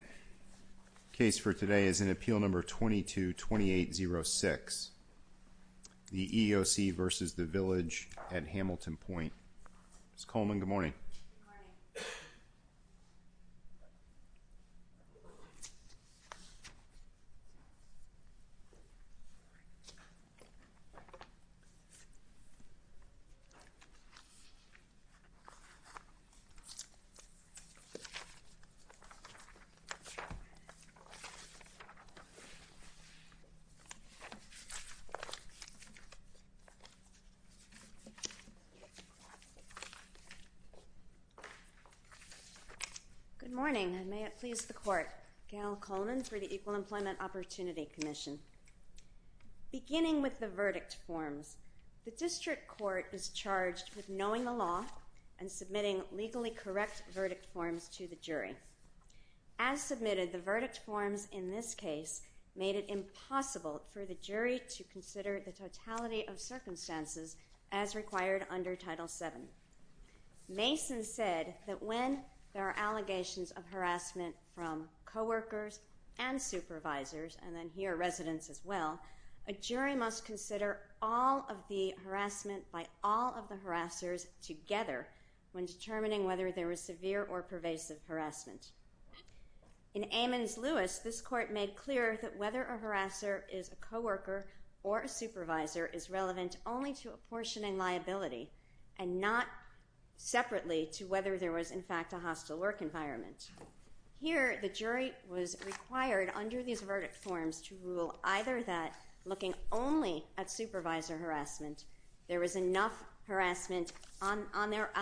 The case for today is in Appeal Number 22-2806, the EEOC v. Village at Hamilton Pointe. Ms. Coleman, good morning. Good morning. And may it please the Court, Gail Coleman for the Equal Employment Opportunity Commission. Beginning with the verdict forms, the District Court is charged with knowing the law and submitting legally correct verdict forms to the jury. As submitted, the verdict forms in this case made it impossible for the jury to consider the totality of circumstances as required under Title VII. Mason said that when there are allegations of harassment from coworkers and supervisors, and then here residents as well, a jury must consider all of the harassment by all of the harassers together when determining whether there was severe or pervasive harassment. In Amons-Lewis, this Court made clear that whether a harasser is a coworker or a supervisor is relevant only to apportioning liability and not separately to whether there was in fact a hostile work environment. Here, the jury was required under these verdict forms to rule either that, looking only at supervisor harassment, there was enough harassment on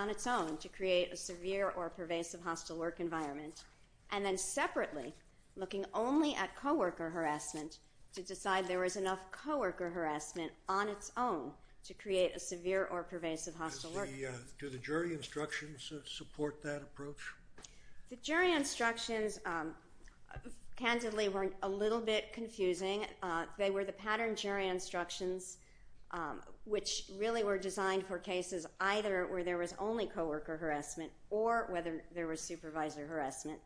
its own to create a severe or pervasive hostile work environment, and then separately, looking only at coworker harassment, to decide there was enough coworker harassment on its own to create a severe or pervasive hostile work environment. Do the jury instructions support that approach? The jury instructions candidly were a little bit confusing. They were the pattern jury instructions, which really were designed for cases either where there was only coworker harassment or whether there was supervisor harassment.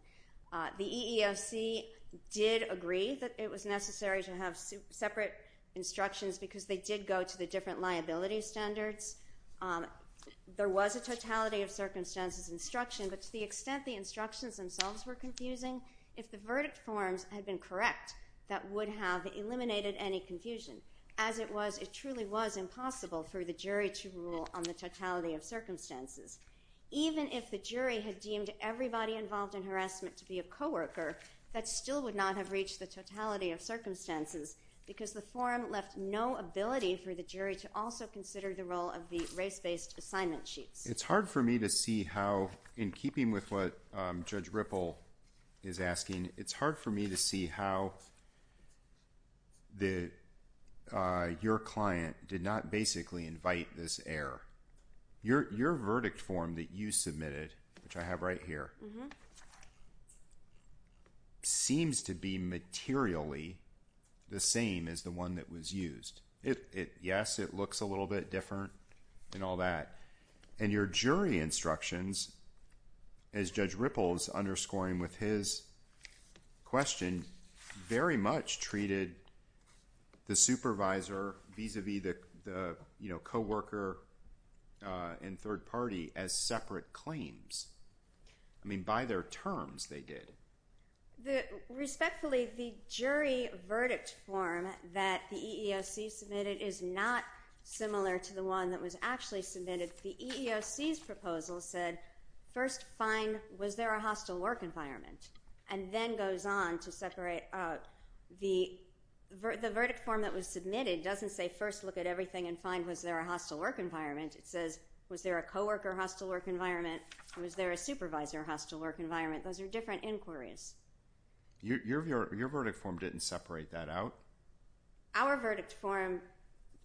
The EEOC did agree that it was necessary to have separate instructions because they did go to the different liability standards. There was a totality of circumstances instruction, but to the extent the instructions themselves were confusing, if the verdict forms had been correct, that would have eliminated any confusion. As it was, it truly was impossible for the jury to rule on the totality of circumstances. Even if the jury had deemed everybody involved in harassment to be a coworker, that still would not have reached the totality of circumstances because the form left no ability for the jury to also consider the role of the race-based assignment sheets. It's hard for me to see how, in keeping with what Judge Ripple is asking, it's hard for me to see how your client did not basically invite this error. Your verdict form that you submitted, which I have right here, seems to be materially the same as the one that was used. Yes, it looks a little bit different and all that, and your jury instructions, as Judge Ripple is underscoring with his question, very much treated the supervisor vis-à-vis the coworker and third party as separate claims. I mean, by their terms, they did. Respectfully, the jury verdict form that the EEOC submitted is not similar to the one that was actually submitted. The EEOC's proposal said first find was there a hostile work environment and then goes on to separate out the verdict form that was submitted. It doesn't say first look at everything and find was there a hostile work environment. It says was there a coworker hostile work environment, was there a supervisor hostile work environment. Those are different inquiries. Your verdict form didn't separate that out? Our verdict form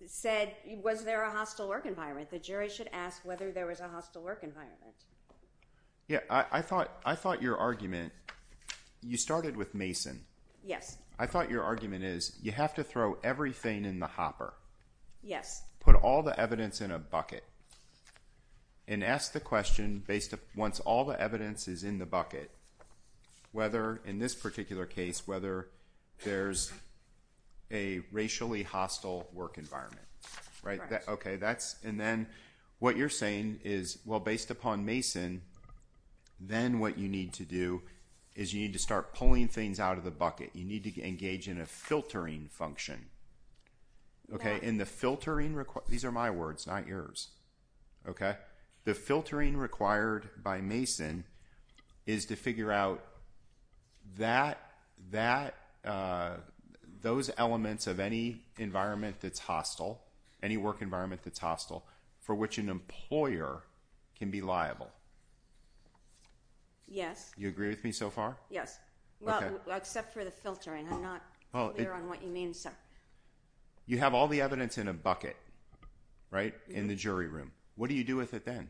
said was there a hostile work environment. The jury should ask whether there was a hostile work environment. I thought your argument, you started with Mason. Yes. I thought your argument is you have to throw everything in the hopper. Yes. Put all the evidence in a bucket and ask the question once all the evidence is in the bucket, whether in this particular case, whether there's a racially hostile work environment. Then what you're saying is, well, based upon Mason, then what you need to do is you need to start pulling things out of the bucket. You need to engage in a filtering function. These are my words, not yours. The filtering required by Mason is to figure out those elements of any environment that's hostile, any work environment that's hostile, for which an employer can be liable. Yes. You agree with me so far? Yes, except for the filtering. I'm not clear on what you mean. You have all the evidence in a bucket, right, in the jury room. What do you do with it then?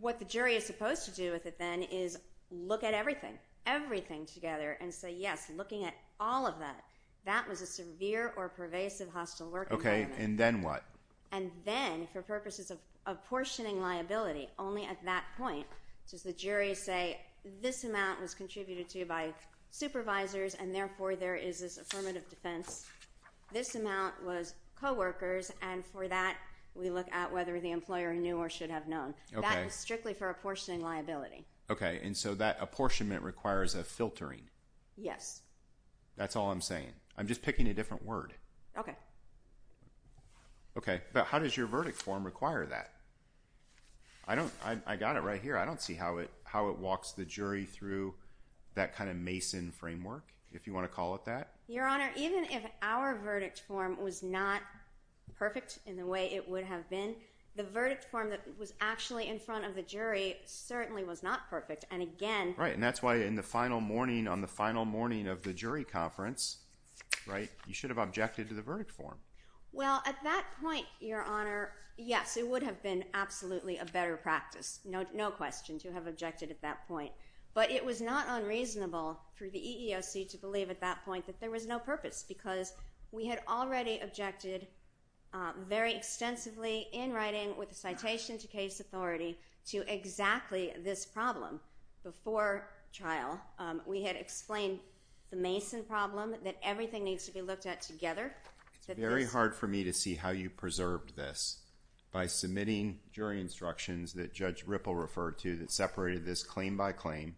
What the jury is supposed to do with it then is look at everything, everything together, and say, yes, looking at all of that, that was a severe or pervasive hostile work environment. Okay, and then what? And then, for purposes of apportioning liability, only at that point does the jury say, this amount was contributed to by supervisors, and therefore, there is this affirmative defense. This amount was coworkers, and for that, we look at whether the employer knew or should have known. That is strictly for apportioning liability. Okay, and so that apportionment requires a filtering. Yes. That's all I'm saying. I'm just picking a different word. Okay. Okay, but how does your verdict form require that? I got it right here. I don't see how it walks the jury through that kind of Mason framework, if you want to call it that. Your Honor, even if our verdict form was not perfect in the way it would have been, the verdict form that was actually in front of the jury certainly was not perfect, and again— Right, and that's why in the final morning, on the final morning of the jury conference, right, you should have objected to the verdict form. Well, at that point, Your Honor, yes, it would have been absolutely a better practice. No question to have objected at that point, but it was not unreasonable for the EEOC to believe at that point that there was no purpose because we had already objected very extensively in writing with a citation to case authority to exactly this problem before trial. We had explained the Mason problem that everything needs to be looked at together. It's very hard for me to see how you preserved this by submitting jury instructions that Judge Ripple referred to that separated this claim by claim,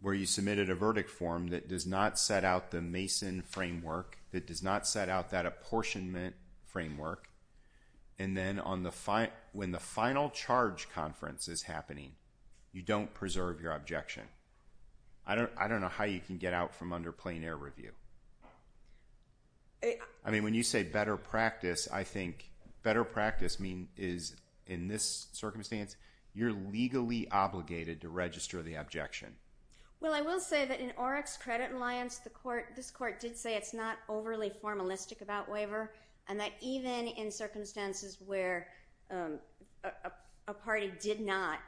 where you submitted a verdict form that does not set out the Mason framework, that does not set out that apportionment framework, and then when the final charge conference is happening, you don't preserve your objection. I don't know how you can get out from under plain-air review. I mean, when you say better practice, I think better practice is, in this circumstance, you're legally obligated to register the objection. Well, I will say that in OREC's credit alliance, this court did say it's not overly formalistic about waiver and that even in circumstances where a party did not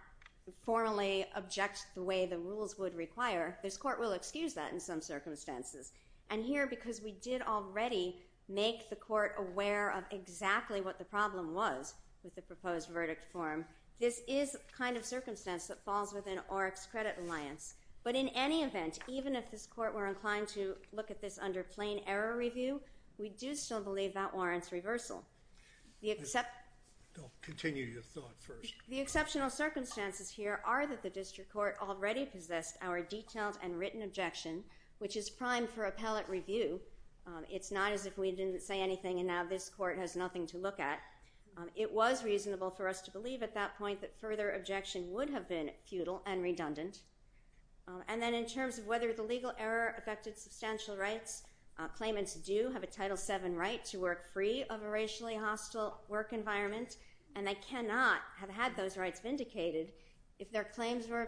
formally object the way the rules would require, this court will excuse that in some circumstances. And here, because we did already make the court aware of exactly what the problem was with the proposed verdict form, this is the kind of circumstance that falls within OREC's credit alliance. But in any event, even if this court were inclined to look at this under plain-error review, we do still believe that warrants reversal. The exceptional circumstances here are that the district court already possessed our detailed and written objection, which is primed for appellate review. It's not as if we didn't say anything and now this court has nothing to look at. It was reasonable for us to believe at that point that further objection would have been futile and redundant. And then in terms of whether the legal error affected substantial rights, claimants do have a Title VII right to work free of a racially hostile work environment and they cannot have had those rights vindicated if their claims were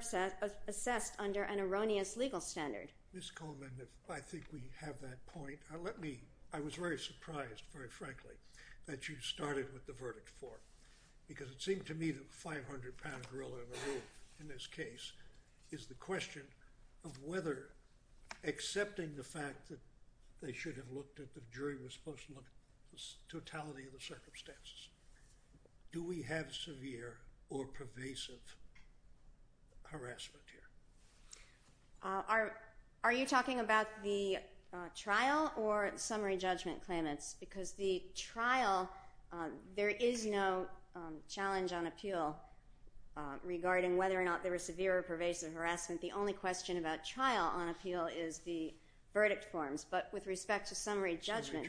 assessed under an erroneous legal standard. Ms. Coleman, I think we have that point. I was very surprised, very frankly, that you started with the verdict form because it seemed to me that the 500-pound gorilla in this case is the question of whether accepting the fact that they should have looked at the jury was supposed to look at the totality of the circumstances. Do we have severe or pervasive harassment here? Are you talking about the trial or summary judgment claimants? Because the trial, there is no challenge on appeal regarding whether or not there was severe or pervasive harassment. The only question about trial on appeal is the verdict forms. But with respect to summary judgment,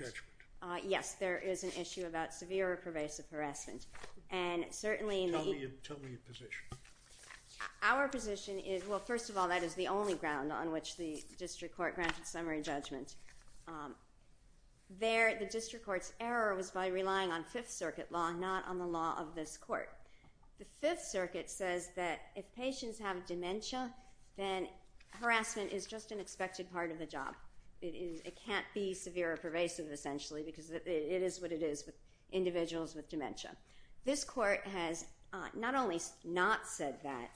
yes, there is an issue about severe or pervasive harassment. Tell me your position. Our position is, well, first of all, that is the only ground on which the district court granted summary judgment. There, the district court's error was by relying on Fifth Circuit law, not on the law of this court. The Fifth Circuit says that if patients have dementia, then harassment is just an expected part of the job. It can't be severe or pervasive, essentially, because it is what it is with individuals with dementia. This court has not only not said that,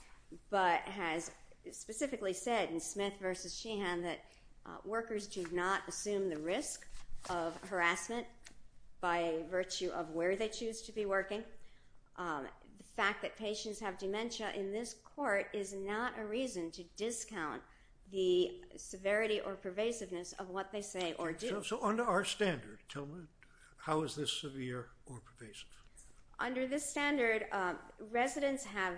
but has specifically said in Smith v. Sheehan that workers do not assume the risk of harassment by virtue of where they choose to be working. The fact that patients have dementia in this court is not a reason to discount the severity or pervasiveness of what they say or do. So under our standard, tell me, how is this severe or pervasive? Under this standard, residents have,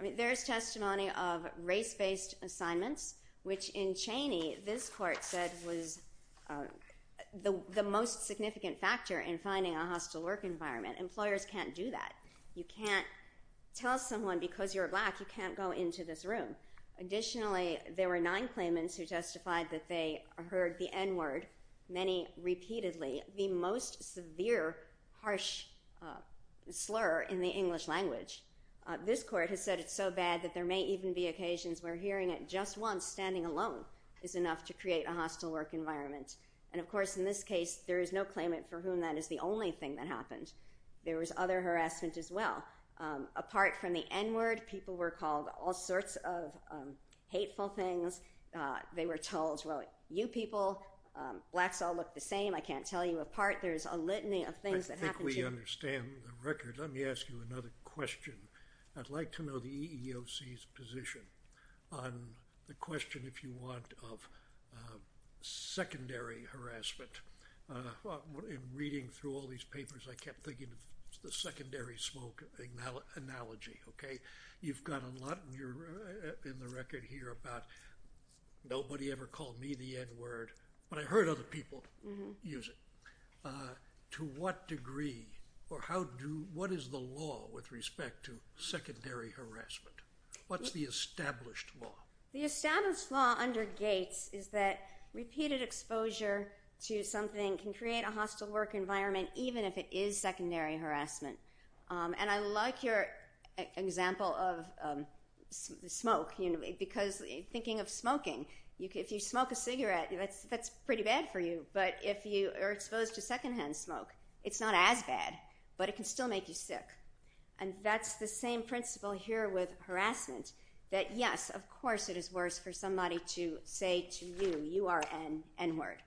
I mean, there is testimony of race-based assignments, which in Cheney, this court said was the most significant factor in finding a hostile work environment. Employers can't do that. You can't tell someone, because you're black, you can't go into this room. Additionally, there were nine claimants who testified that they heard the N-word, many repeatedly. The most severe, harsh slur in the English language. This court has said it's so bad that there may even be occasions where hearing it just once, standing alone, is enough to create a hostile work environment. And of course, in this case, there is no claimant for whom that is the only thing that happened. There was other harassment as well. Apart from the N-word, people were called all sorts of hateful things. They were told, well, you people, blacks all look the same. I can't tell you apart. There's a litany of things that happened to you. I think we understand the record. Let me ask you another question. I'd like to know the EEOC's position on the question, if you want, of secondary harassment. In reading through all these papers, I kept thinking of the secondary smoke analogy, okay? You've got a lot in the record here about nobody ever called me the N-word, but I heard other people use it. To what degree, or what is the law with respect to secondary harassment? What's the established law? The established law under Gates is that repeated exposure to something can create a hostile work environment, even if it is secondary harassment. I like your example of smoke, because thinking of smoking, if you smoke a cigarette, that's pretty bad for you. But if you are exposed to secondhand smoke, it's not as bad, but it can still make you sick. That's the same principle here with harassment, that yes, of course it is worse for somebody to say to you, you are an N-word.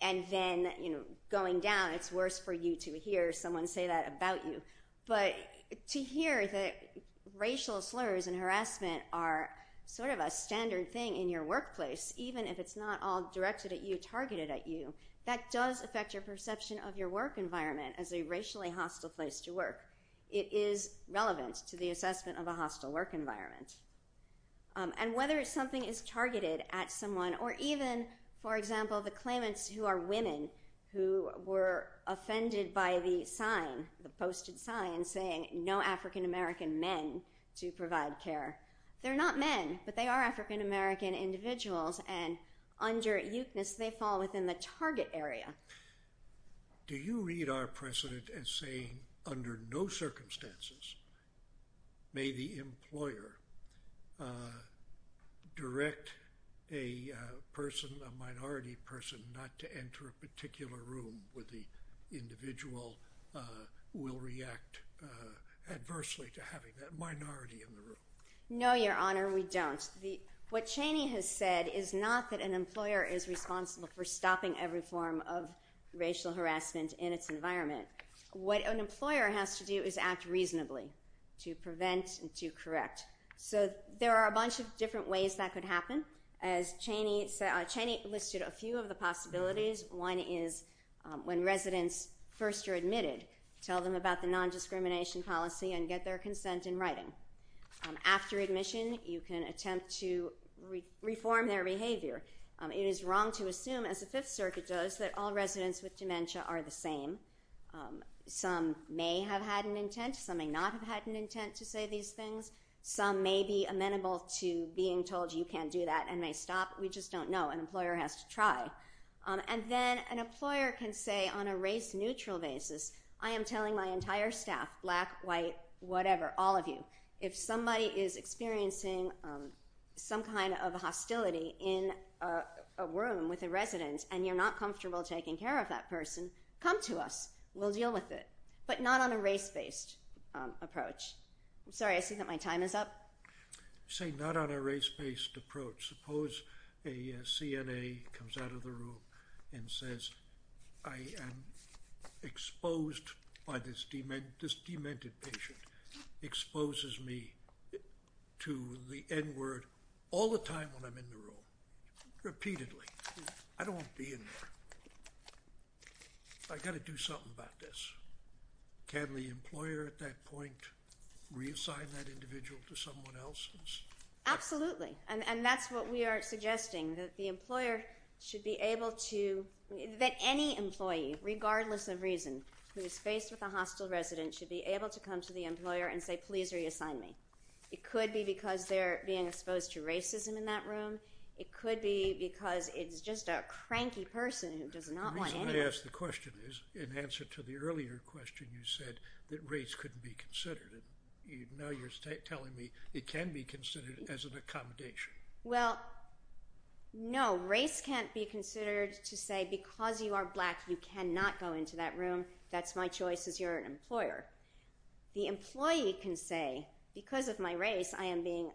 And then going down, it's worse for you to hear someone say that about you. But to hear that racial slurs and harassment are sort of a standard thing in your workplace, even if it's not all directed at you, targeted at you, that does affect your perception of your work environment as a racially hostile place to work. It is relevant to the assessment of a hostile work environment. And whether something is targeted at someone, or even, for example, the claimants who are women who were offended by the sign, the posted sign saying, no African-American men to provide care. They're not men, but they are African-American individuals, and under euthanasia, they fall within the target area. Do you read our precedent as saying under no circumstances may the employer direct a person, a minority person, not to enter a particular room where the individual will react adversely to having that minority in the room? No, Your Honor, we don't. What Cheney has said is not that an employer is responsible for stopping every form of racial harassment in its environment. What an employer has to do is act reasonably to prevent and to correct. So there are a bunch of different ways that could happen. As Cheney said, Cheney listed a few of the possibilities. One is when residents first are admitted, tell them about the nondiscrimination policy and get their consent in writing. After admission, you can attempt to reform their behavior. It is wrong to assume, as the Fifth Circuit does, that all residents with dementia are the same. Some may have had an intent. Some may not have had an intent to say these things. Some may be amenable to being told you can't do that and may stop. We just don't know. An employer has to try. And then an employer can say on a race-neutral basis, I am telling my entire staff, black, white, whatever, all of you, if somebody is experiencing some kind of hostility in a room with a resident and you're not comfortable taking care of that person, come to us. We'll deal with it, but not on a race-based approach. I'm sorry. I see that my time is up. Say not on a race-based approach. Suppose a CNA comes out of the room and says, I am exposed by this demented patient, exposes me to the N word all the time when I'm in the room, repeatedly. I don't want to be in there. I've got to do something about this. Can the employer at that point reassign that individual to someone else's? Absolutely. And that's what we are suggesting, that the employer should be able to, that any employee, regardless of reason, who is faced with a hostile resident, should be able to come to the employer and say, please reassign me. It could be because they're being exposed to racism in that room. It could be because it's just a cranky person who does not want anyone. The reason I ask the question is in answer to the earlier question, you said that race couldn't be considered. Now you're telling me it can be considered as an accommodation. Well, no. Race can't be considered to say, because you are black, you cannot go into that room. That's my choice as your employer. The employee can say, because of my race, I am being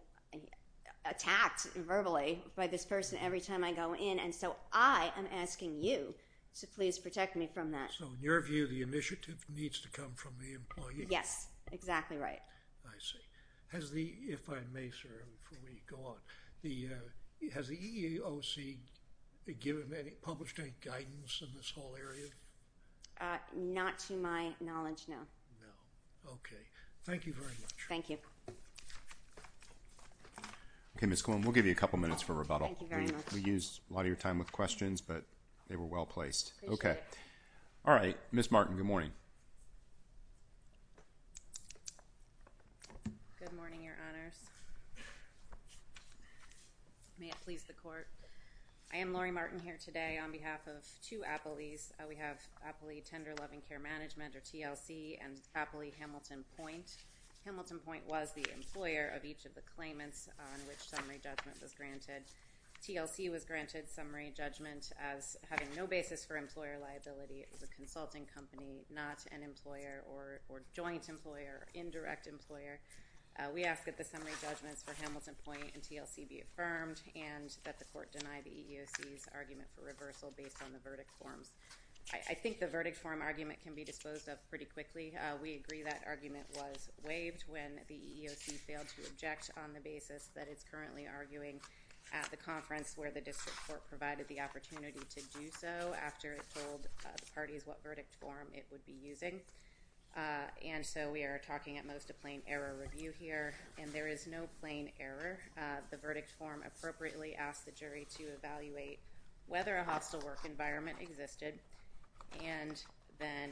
attacked verbally by this person every time I go in, and so I am asking you to please protect me from that. Yes, exactly right. I see. Has the, if I may, sir, before we go on, has the EEOC published any guidance in this whole area? Not to my knowledge, no. No, okay. Thank you very much. Thank you. Okay, Ms. Cohen, we'll give you a couple minutes for rebuttal. Thank you very much. We used a lot of your time with questions, but they were well placed. Appreciate it. All right, Ms. Martin, good morning. Good morning, Your Honors. May it please the Court. I am Lori Martin here today on behalf of two appellees. We have Appley Tender Loving Care Management, or TLC, and Appley Hamilton Point. Hamilton Point was the employer of each of the claimants on which summary judgment was granted. It was a consulting company, not an employer or joint employer, indirect employer. We ask that the summary judgments for Hamilton Point and TLC be affirmed and that the Court deny the EEOC's argument for reversal based on the verdict forms. I think the verdict form argument can be disposed of pretty quickly. We agree that argument was waived when the EEOC failed to object on the basis that it's currently arguing at the conference where the district court provided the opportunity to do so after it told the parties what verdict form it would be using. And so we are talking at most a plain error review here, and there is no plain error. The verdict form appropriately asked the jury to evaluate whether a hostile work environment existed and then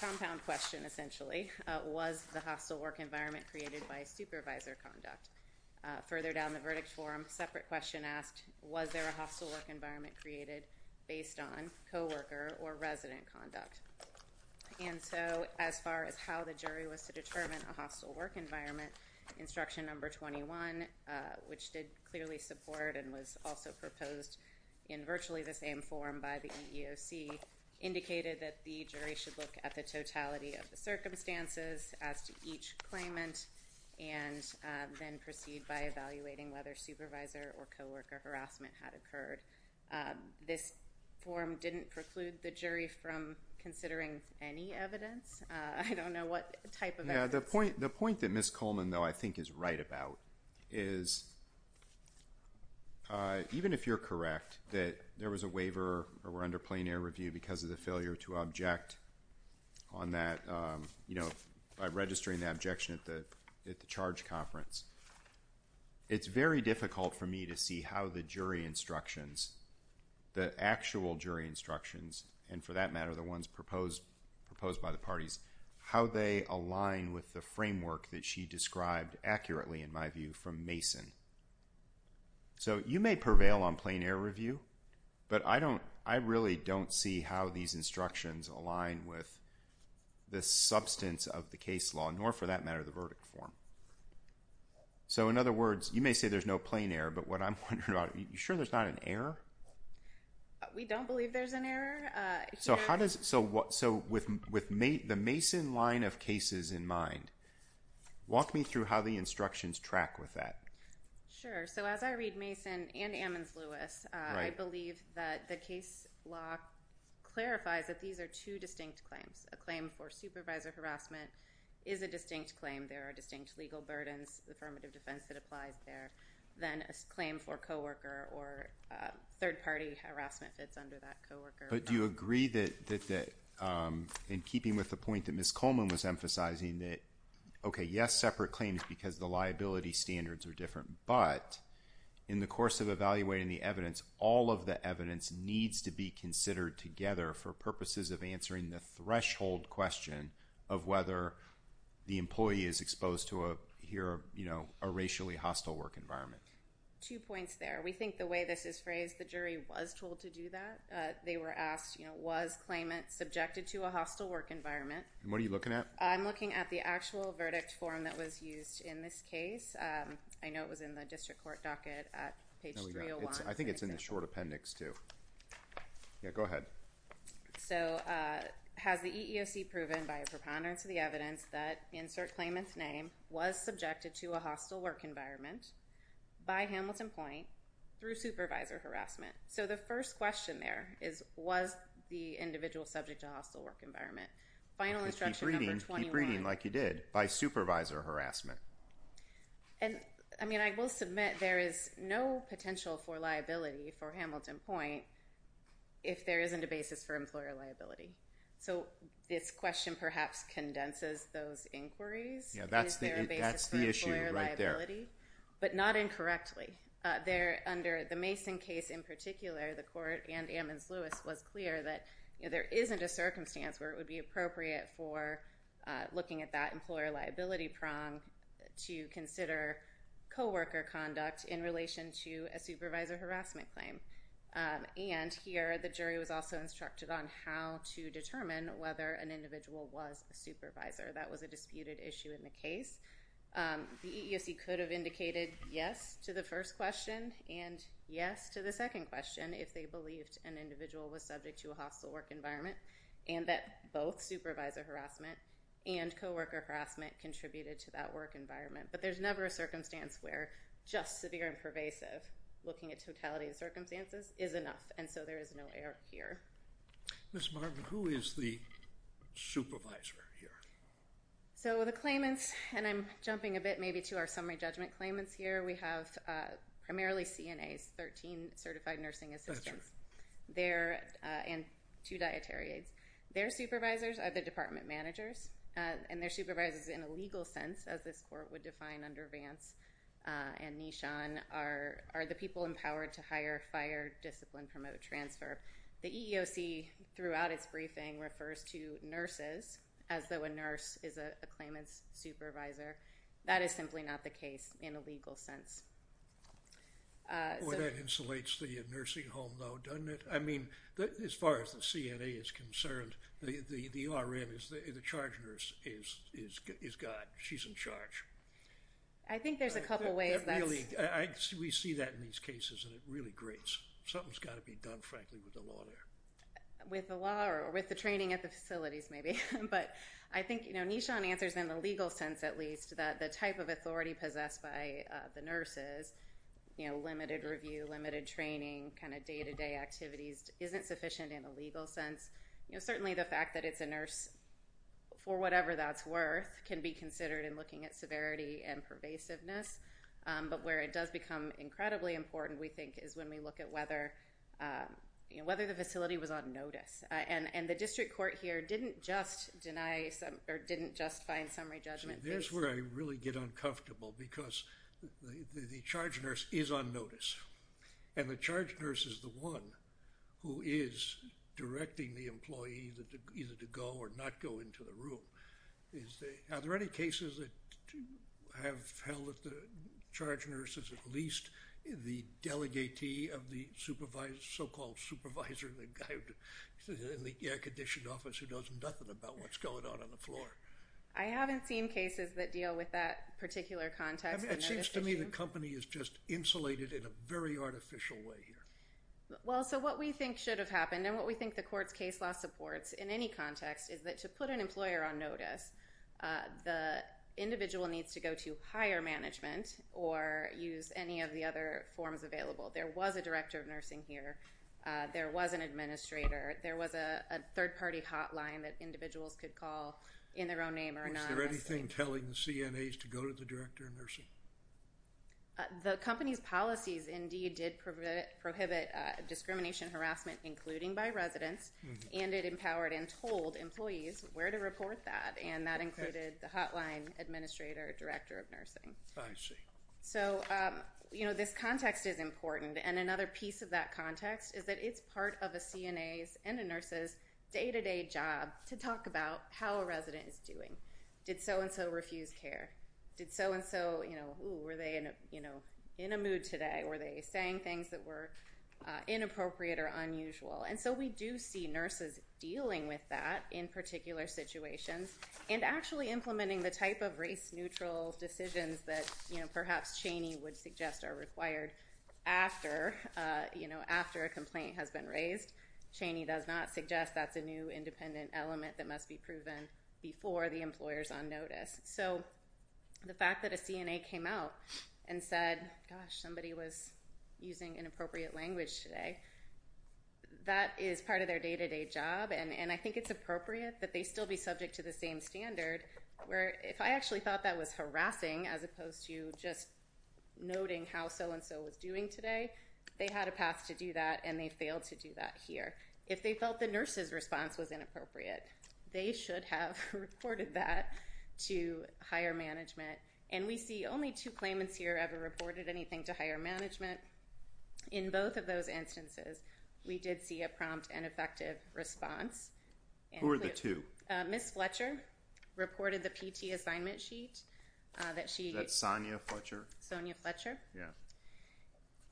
compound question, essentially, was the hostile work environment created by supervisor conduct? Further down the verdict form, separate question asked, was there a hostile work environment created based on coworker or resident conduct? And so as far as how the jury was to determine a hostile work environment, instruction number 21, which did clearly support and was also proposed in virtually the same form by the EEOC, indicated that the jury should look at the totality of the circumstances as to each claimant and then proceed by evaluating whether supervisor or coworker harassment had occurred. This form didn't preclude the jury from considering any evidence. I don't know what type of evidence. The point that Ms. Coleman, though, I think is right about is even if you're correct that there was a waiver or were under plain error review because of the failure to object on that, you know, by registering the objection at the charge conference, it's very difficult for me to see how the jury instructions, the actual jury instructions, and for that matter the ones proposed by the parties, how they align with the framework that she described accurately, in my view, from Mason. So you may prevail on plain error review, but I really don't see how these instructions align with the substance of the case law, nor for that matter the verdict form. So in other words, you may say there's no plain error, but what I'm wondering about, are you sure there's not an error? We don't believe there's an error. So with the Mason line of cases in mind, walk me through how the instructions track with that. Sure. So as I read Mason and Ammons-Lewis, I believe that the case law clarifies that these are two distinct claims. A claim for supervisor harassment is a distinct claim. There are distinct legal burdens, affirmative defense that applies there. Then a claim for co-worker or third-party harassment that's under that co-worker. But do you agree that, in keeping with the point that Ms. Coleman was emphasizing, that, okay, yes, separate claims because the liability standards are different, but in the course of evaluating the evidence, all of the evidence needs to be considered together for purposes of answering the threshold question of whether the employee is exposed to a racially hostile work environment. Two points there. We think the way this is phrased, the jury was told to do that. They were asked, was claimant subjected to a hostile work environment? What are you looking at? I'm looking at the actual verdict form that was used in this case. I know it was in the district court docket at page 301. I think it's in the short appendix too. Yeah, go ahead. So has the EEOC proven by a preponderance of the evidence that, insert claimant's name, was subjected to a hostile work environment by Hamilton Point through supervisor harassment? So the first question there is, was the individual subject to a hostile work environment? Final instruction number 21. Keep reading like you did, by supervisor harassment. I mean, I will submit there is no potential for liability for Hamilton Point if there isn't a basis for employer liability. So this question perhaps condenses those inquiries. Yeah, that's the issue right there. But not incorrectly. Under the Mason case in particular, the court and Ammons-Lewis was clear that there isn't a circumstance where it would be appropriate for looking at that employer liability prong to consider co-worker conduct in relation to a supervisor harassment claim. And here the jury was also instructed on how to determine whether an individual was a supervisor. That was a disputed issue in the case. The EEOC could have indicated yes to the first question and yes to the second question if they believed an individual was subject to a hostile work environment and that both supervisor harassment and co-worker harassment contributed to that work environment. Looking at totality of circumstances is enough. And so there is no error here. Ms. Martin, who is the supervisor here? So the claimants, and I'm jumping a bit maybe to our summary judgment claimants here, we have primarily CNAs, 13 certified nursing assistants, and two dietary aides. Their supervisors are the department managers, and their supervisors in a legal sense, as this court would define under Vance and Nishan, are the people empowered to hire, fire, discipline, promote, transfer. The EEOC throughout its briefing refers to nurses as though a nurse is a claimant's supervisor. That is simply not the case in a legal sense. Well, that insulates the nursing home though, doesn't it? I mean, as far as the CNA is concerned, the RN, the charge nurse, is gone. She's in charge. I think there's a couple ways. We see that in these cases, and it really grates. Something's got to be done, frankly, with the law there. With the law or with the training at the facilities maybe. But I think Nishan answers in the legal sense at least that the type of authority possessed by the nurses, you know, limited review, limited training, kind of day-to-day activities, isn't sufficient in a legal sense. You know, certainly the fact that it's a nurse, for whatever that's worth, can be considered in looking at severity and pervasiveness. But where it does become incredibly important, we think, is when we look at whether the facility was on notice. And the district court here didn't just deny or didn't just find summary judgment. There's where I really get uncomfortable because the charge nurse is on notice, and the charge nurse is the one who is directing the employee either to go or not go into the room. Are there any cases that have held that the charge nurse is at least the delegatee of the so-called supervisor, the guy in the air-conditioned office who knows nothing about what's going on on the floor? I haven't seen cases that deal with that particular context. It seems to me the company is just insulated in a very artificial way here. Well, so what we think should have happened, and what we think the court's case law supports in any context, is that to put an employer on notice, the individual needs to go to higher management or use any of the other forms available. There was a director of nursing here. There was an administrator. There was a third-party hotline that individuals could call in their own name or anonymously. Is there anything telling the CNAs to go to the director of nursing? The company's policies indeed did prohibit discrimination and harassment, including by residents, and it empowered and told employees where to report that, and that included the hotline administrator or director of nursing. I see. So, you know, this context is important, and another piece of that context is that it's part of a CNA's and a nurse's day-to-day job to talk about how a resident is doing. Did so-and-so refuse care? Did so-and-so, you know, were they, you know, in a mood today? Were they saying things that were inappropriate or unusual? And so we do see nurses dealing with that in particular situations and actually implementing the type of race-neutral decisions that, you know, perhaps Cheney would suggest are required after, you know, after a complaint has been raised. Cheney does not suggest that's a new independent element that must be proven before the employer's on notice. So the fact that a CNA came out and said, gosh, somebody was using inappropriate language today, that is part of their day-to-day job, and I think it's appropriate that they still be subject to the same standard where if I actually thought that was harassing as opposed to just noting how so-and-so was doing today, they had a path to do that and they failed to do that here. If they felt the nurse's response was inappropriate, they should have reported that to higher management. And we see only two claimants here ever reported anything to higher management. In both of those instances, we did see a prompt and effective response. Who were the two? Ms. Fletcher reported the PT assignment sheet that she – Is that Sonia Fletcher? Sonia Fletcher. Yeah.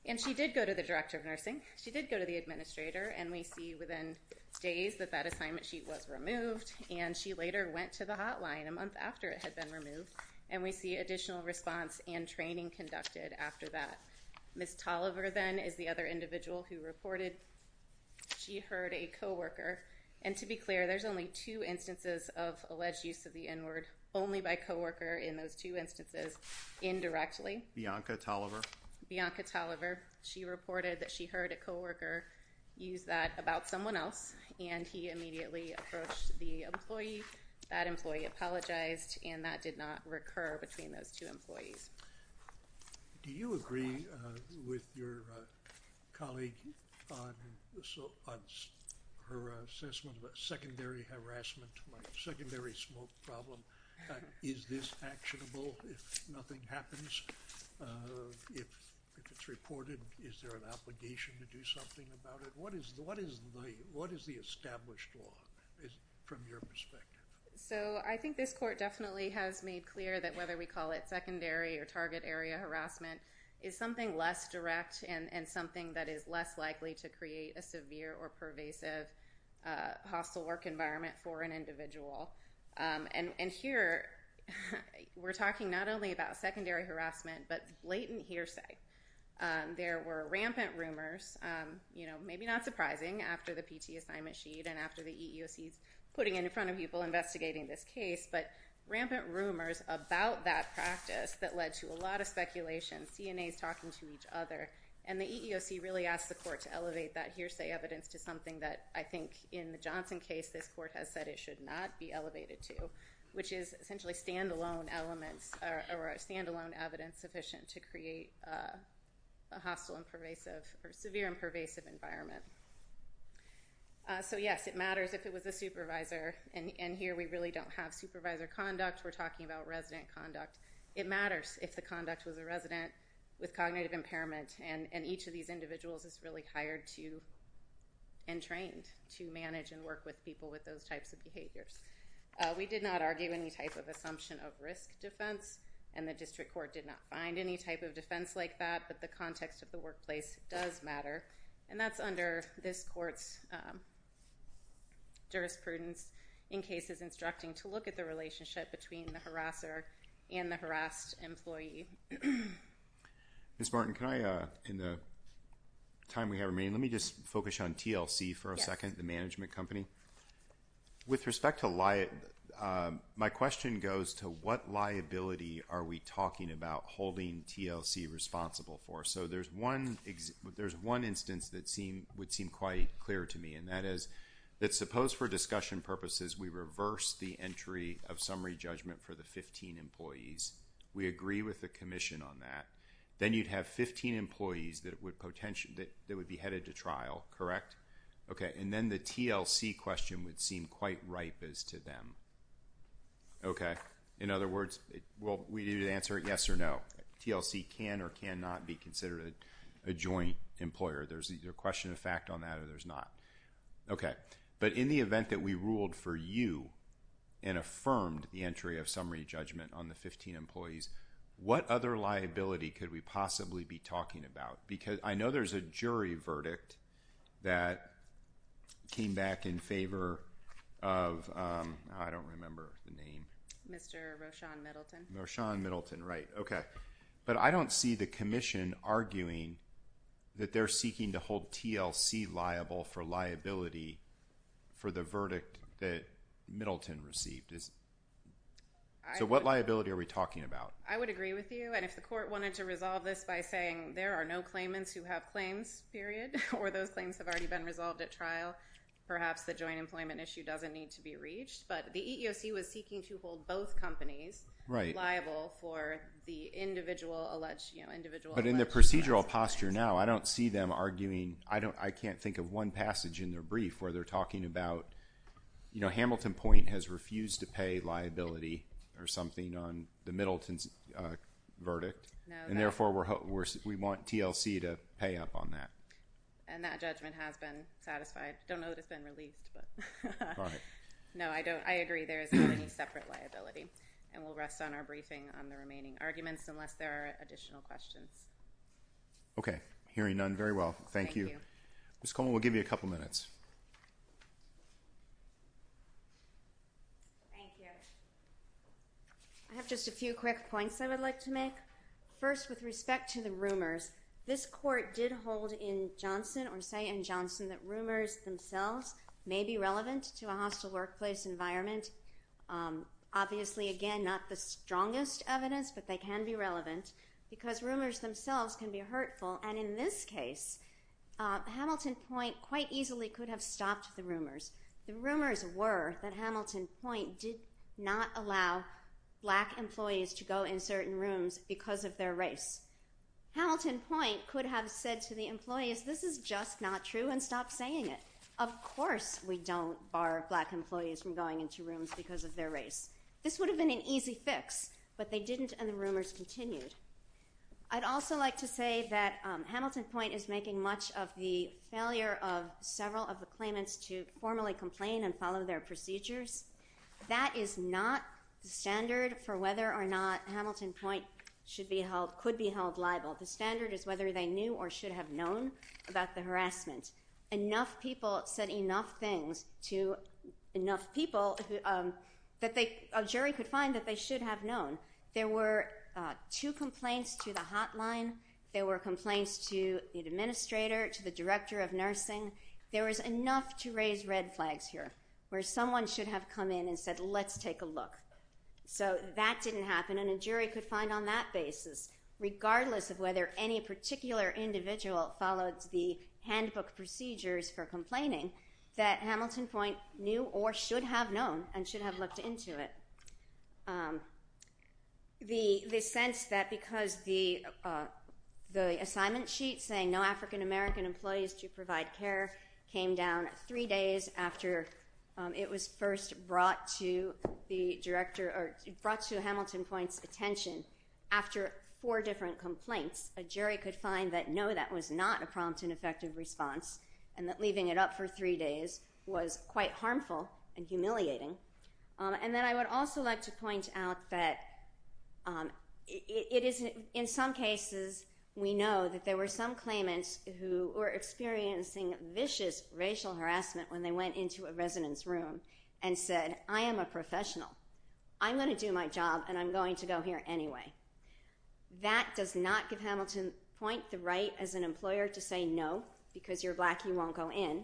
And she did go to the director of nursing. She did go to the administrator, and we see within days that that assignment sheet was removed, and she later went to the hotline a month after it had been removed, and we see additional response and training conducted after that. Ms. Tolliver, then, is the other individual who reported she heard a coworker, and to be clear, there's only two instances of alleged use of the N-word, only by coworker in those two instances, indirectly. Bianca Tolliver. Bianca Tolliver. She reported that she heard a coworker use that about someone else, and he immediately approached the employee. That employee apologized, and that did not recur between those two employees. Do you agree with your colleague on her assessment of a secondary harassment, secondary smoke problem? Is this actionable if nothing happens? If it's reported, is there an obligation to do something about it? What is the established law from your perspective? So I think this court definitely has made clear that whether we call it secondary or target area harassment is something less direct and something that is less likely to create a severe or pervasive hostile work environment for an individual. And here we're talking not only about secondary harassment but blatant hearsay. There were rampant rumors, you know, maybe not surprising, after the PT assignment sheet and after the EEOC putting it in front of people investigating this case, but rampant rumors about that practice that led to a lot of speculation, CNAs talking to each other, and the EEOC really asked the court to elevate that hearsay evidence to something that I think in the Johnson case this court has said it should not be elevated to, which is essentially stand-alone elements or stand-alone evidence sufficient to create a hostile and pervasive or severe and pervasive environment. So, yes, it matters if it was a supervisor, and here we really don't have supervisor conduct. We're talking about resident conduct. It matters if the conduct was a resident with cognitive impairment, and each of these individuals is really hired to and trained to manage and work with people with those types of behaviors. We did not argue any type of assumption of risk defense, and the district court did not find any type of defense like that, but the context of the workplace does matter, and that's under this court's jurisprudence in cases instructing to look at the relationship between the harasser and the harassed employee. Ms. Martin, can I, in the time we have remaining, let me just focus on TLC for a second, the management company. With respect to liability, my question goes to what liability are we talking about holding TLC responsible for? So there's one instance that would seem quite clear to me, and that is that suppose for discussion purposes we reverse the entry of summary judgment for the 15 employees. We agree with the commission on that. Then you'd have 15 employees that would be headed to trial, correct? Okay, and then the TLC question would seem quite ripe as to them. Okay, in other words, well, we need to answer yes or no. TLC can or cannot be considered a joint employer. There's either question of fact on that or there's not. Okay, but in the event that we ruled for you and affirmed the entry of summary judgment on the 15 employees, what other liability could we possibly be talking about? I know there's a jury verdict that came back in favor of, I don't remember the name. Mr. Rochon Middleton. Rochon Middleton, right, okay. But I don't see the commission arguing that they're seeking to hold TLC liable for liability for the verdict that Middleton received. So what liability are we talking about? I would agree with you, and if the court wanted to resolve this by saying there are no claimants who have claims, period, or those claims have already been resolved at trial, perhaps the joint employment issue doesn't need to be reached. But the EEOC was seeking to hold both companies liable for the individual alleged assets. But in their procedural posture now, I don't see them arguing. I can't think of one passage in their brief where they're talking about, you know, Hamilton Point has refused to pay liability or something on the Middleton's verdict, and therefore we want TLC to pay up on that. And that judgment has been satisfied. I don't know that it's been released. No, I agree there is not any separate liability, and we'll rest on our briefing on the remaining arguments unless there are additional questions. Okay. Hearing none, very well. Thank you. Thank you. Ms. Coleman, we'll give you a couple minutes. Thank you. I have just a few quick points I would like to make. First, with respect to the rumors, this court did hold in Johnson or say in Johnson that rumors themselves may be relevant to a hostile workplace environment. Obviously, again, not the strongest evidence, but they can be relevant because rumors themselves can be hurtful, and in this case, Hamilton Point quite easily could have stopped the rumors. The rumors were that Hamilton Point did not allow black employees to go in certain rooms because of their race. Hamilton Point could have said to the employees, this is just not true, and stopped saying it. Of course we don't bar black employees from going into rooms because of their race. This would have been an easy fix, but they didn't, and the rumors continued. I'd also like to say that Hamilton Point is making much of the failure of several of the claimants to formally complain and follow their procedures. That is not the standard for whether or not Hamilton Point could be held liable. The standard is whether they knew or should have known about the harassment. Enough people said enough things to enough people that a jury could find that they should have known. There were two complaints to the hotline. There were complaints to the administrator, to the director of nursing. There was enough to raise red flags here, where someone should have come in and said, let's take a look. So that didn't happen, and a jury could find on that basis, regardless of whether any particular individual followed the handbook procedures for complaining, that Hamilton Point knew or should have known and should have looked into it. The sense that because the assignment sheet saying no African-American employees to provide care came down three days after it was first brought to the director, or brought to Hamilton Point's attention, after four different complaints, a jury could find that no, that was not a prompt and effective response, and that leaving it up for three days was quite harmful and humiliating. And then I would also like to point out that in some cases, we know that there were some claimants who were experiencing vicious racial harassment when they went into a residence room and said, I am a professional. I'm going to do my job, and I'm going to go here anyway. That does not give Hamilton Point the right as an employer to say no, because you're black, you won't go in.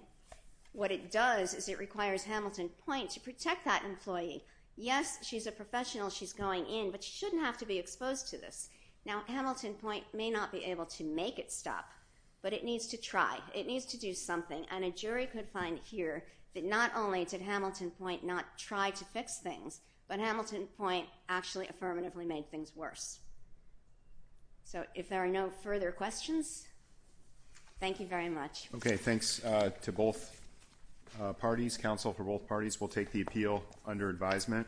What it does is it requires Hamilton Point to protect that employee. Yes, she's a professional, she's going in, but she shouldn't have to be exposed to this. Now, Hamilton Point may not be able to make it stop, but it needs to try. It needs to do something, and a jury could find here that not only did Hamilton Point not try to fix things, but Hamilton Point actually affirmatively made things worse. So if there are no further questions, thank you very much. Okay, thanks to both parties, counsel for both parties. We'll take the appeal under advisement.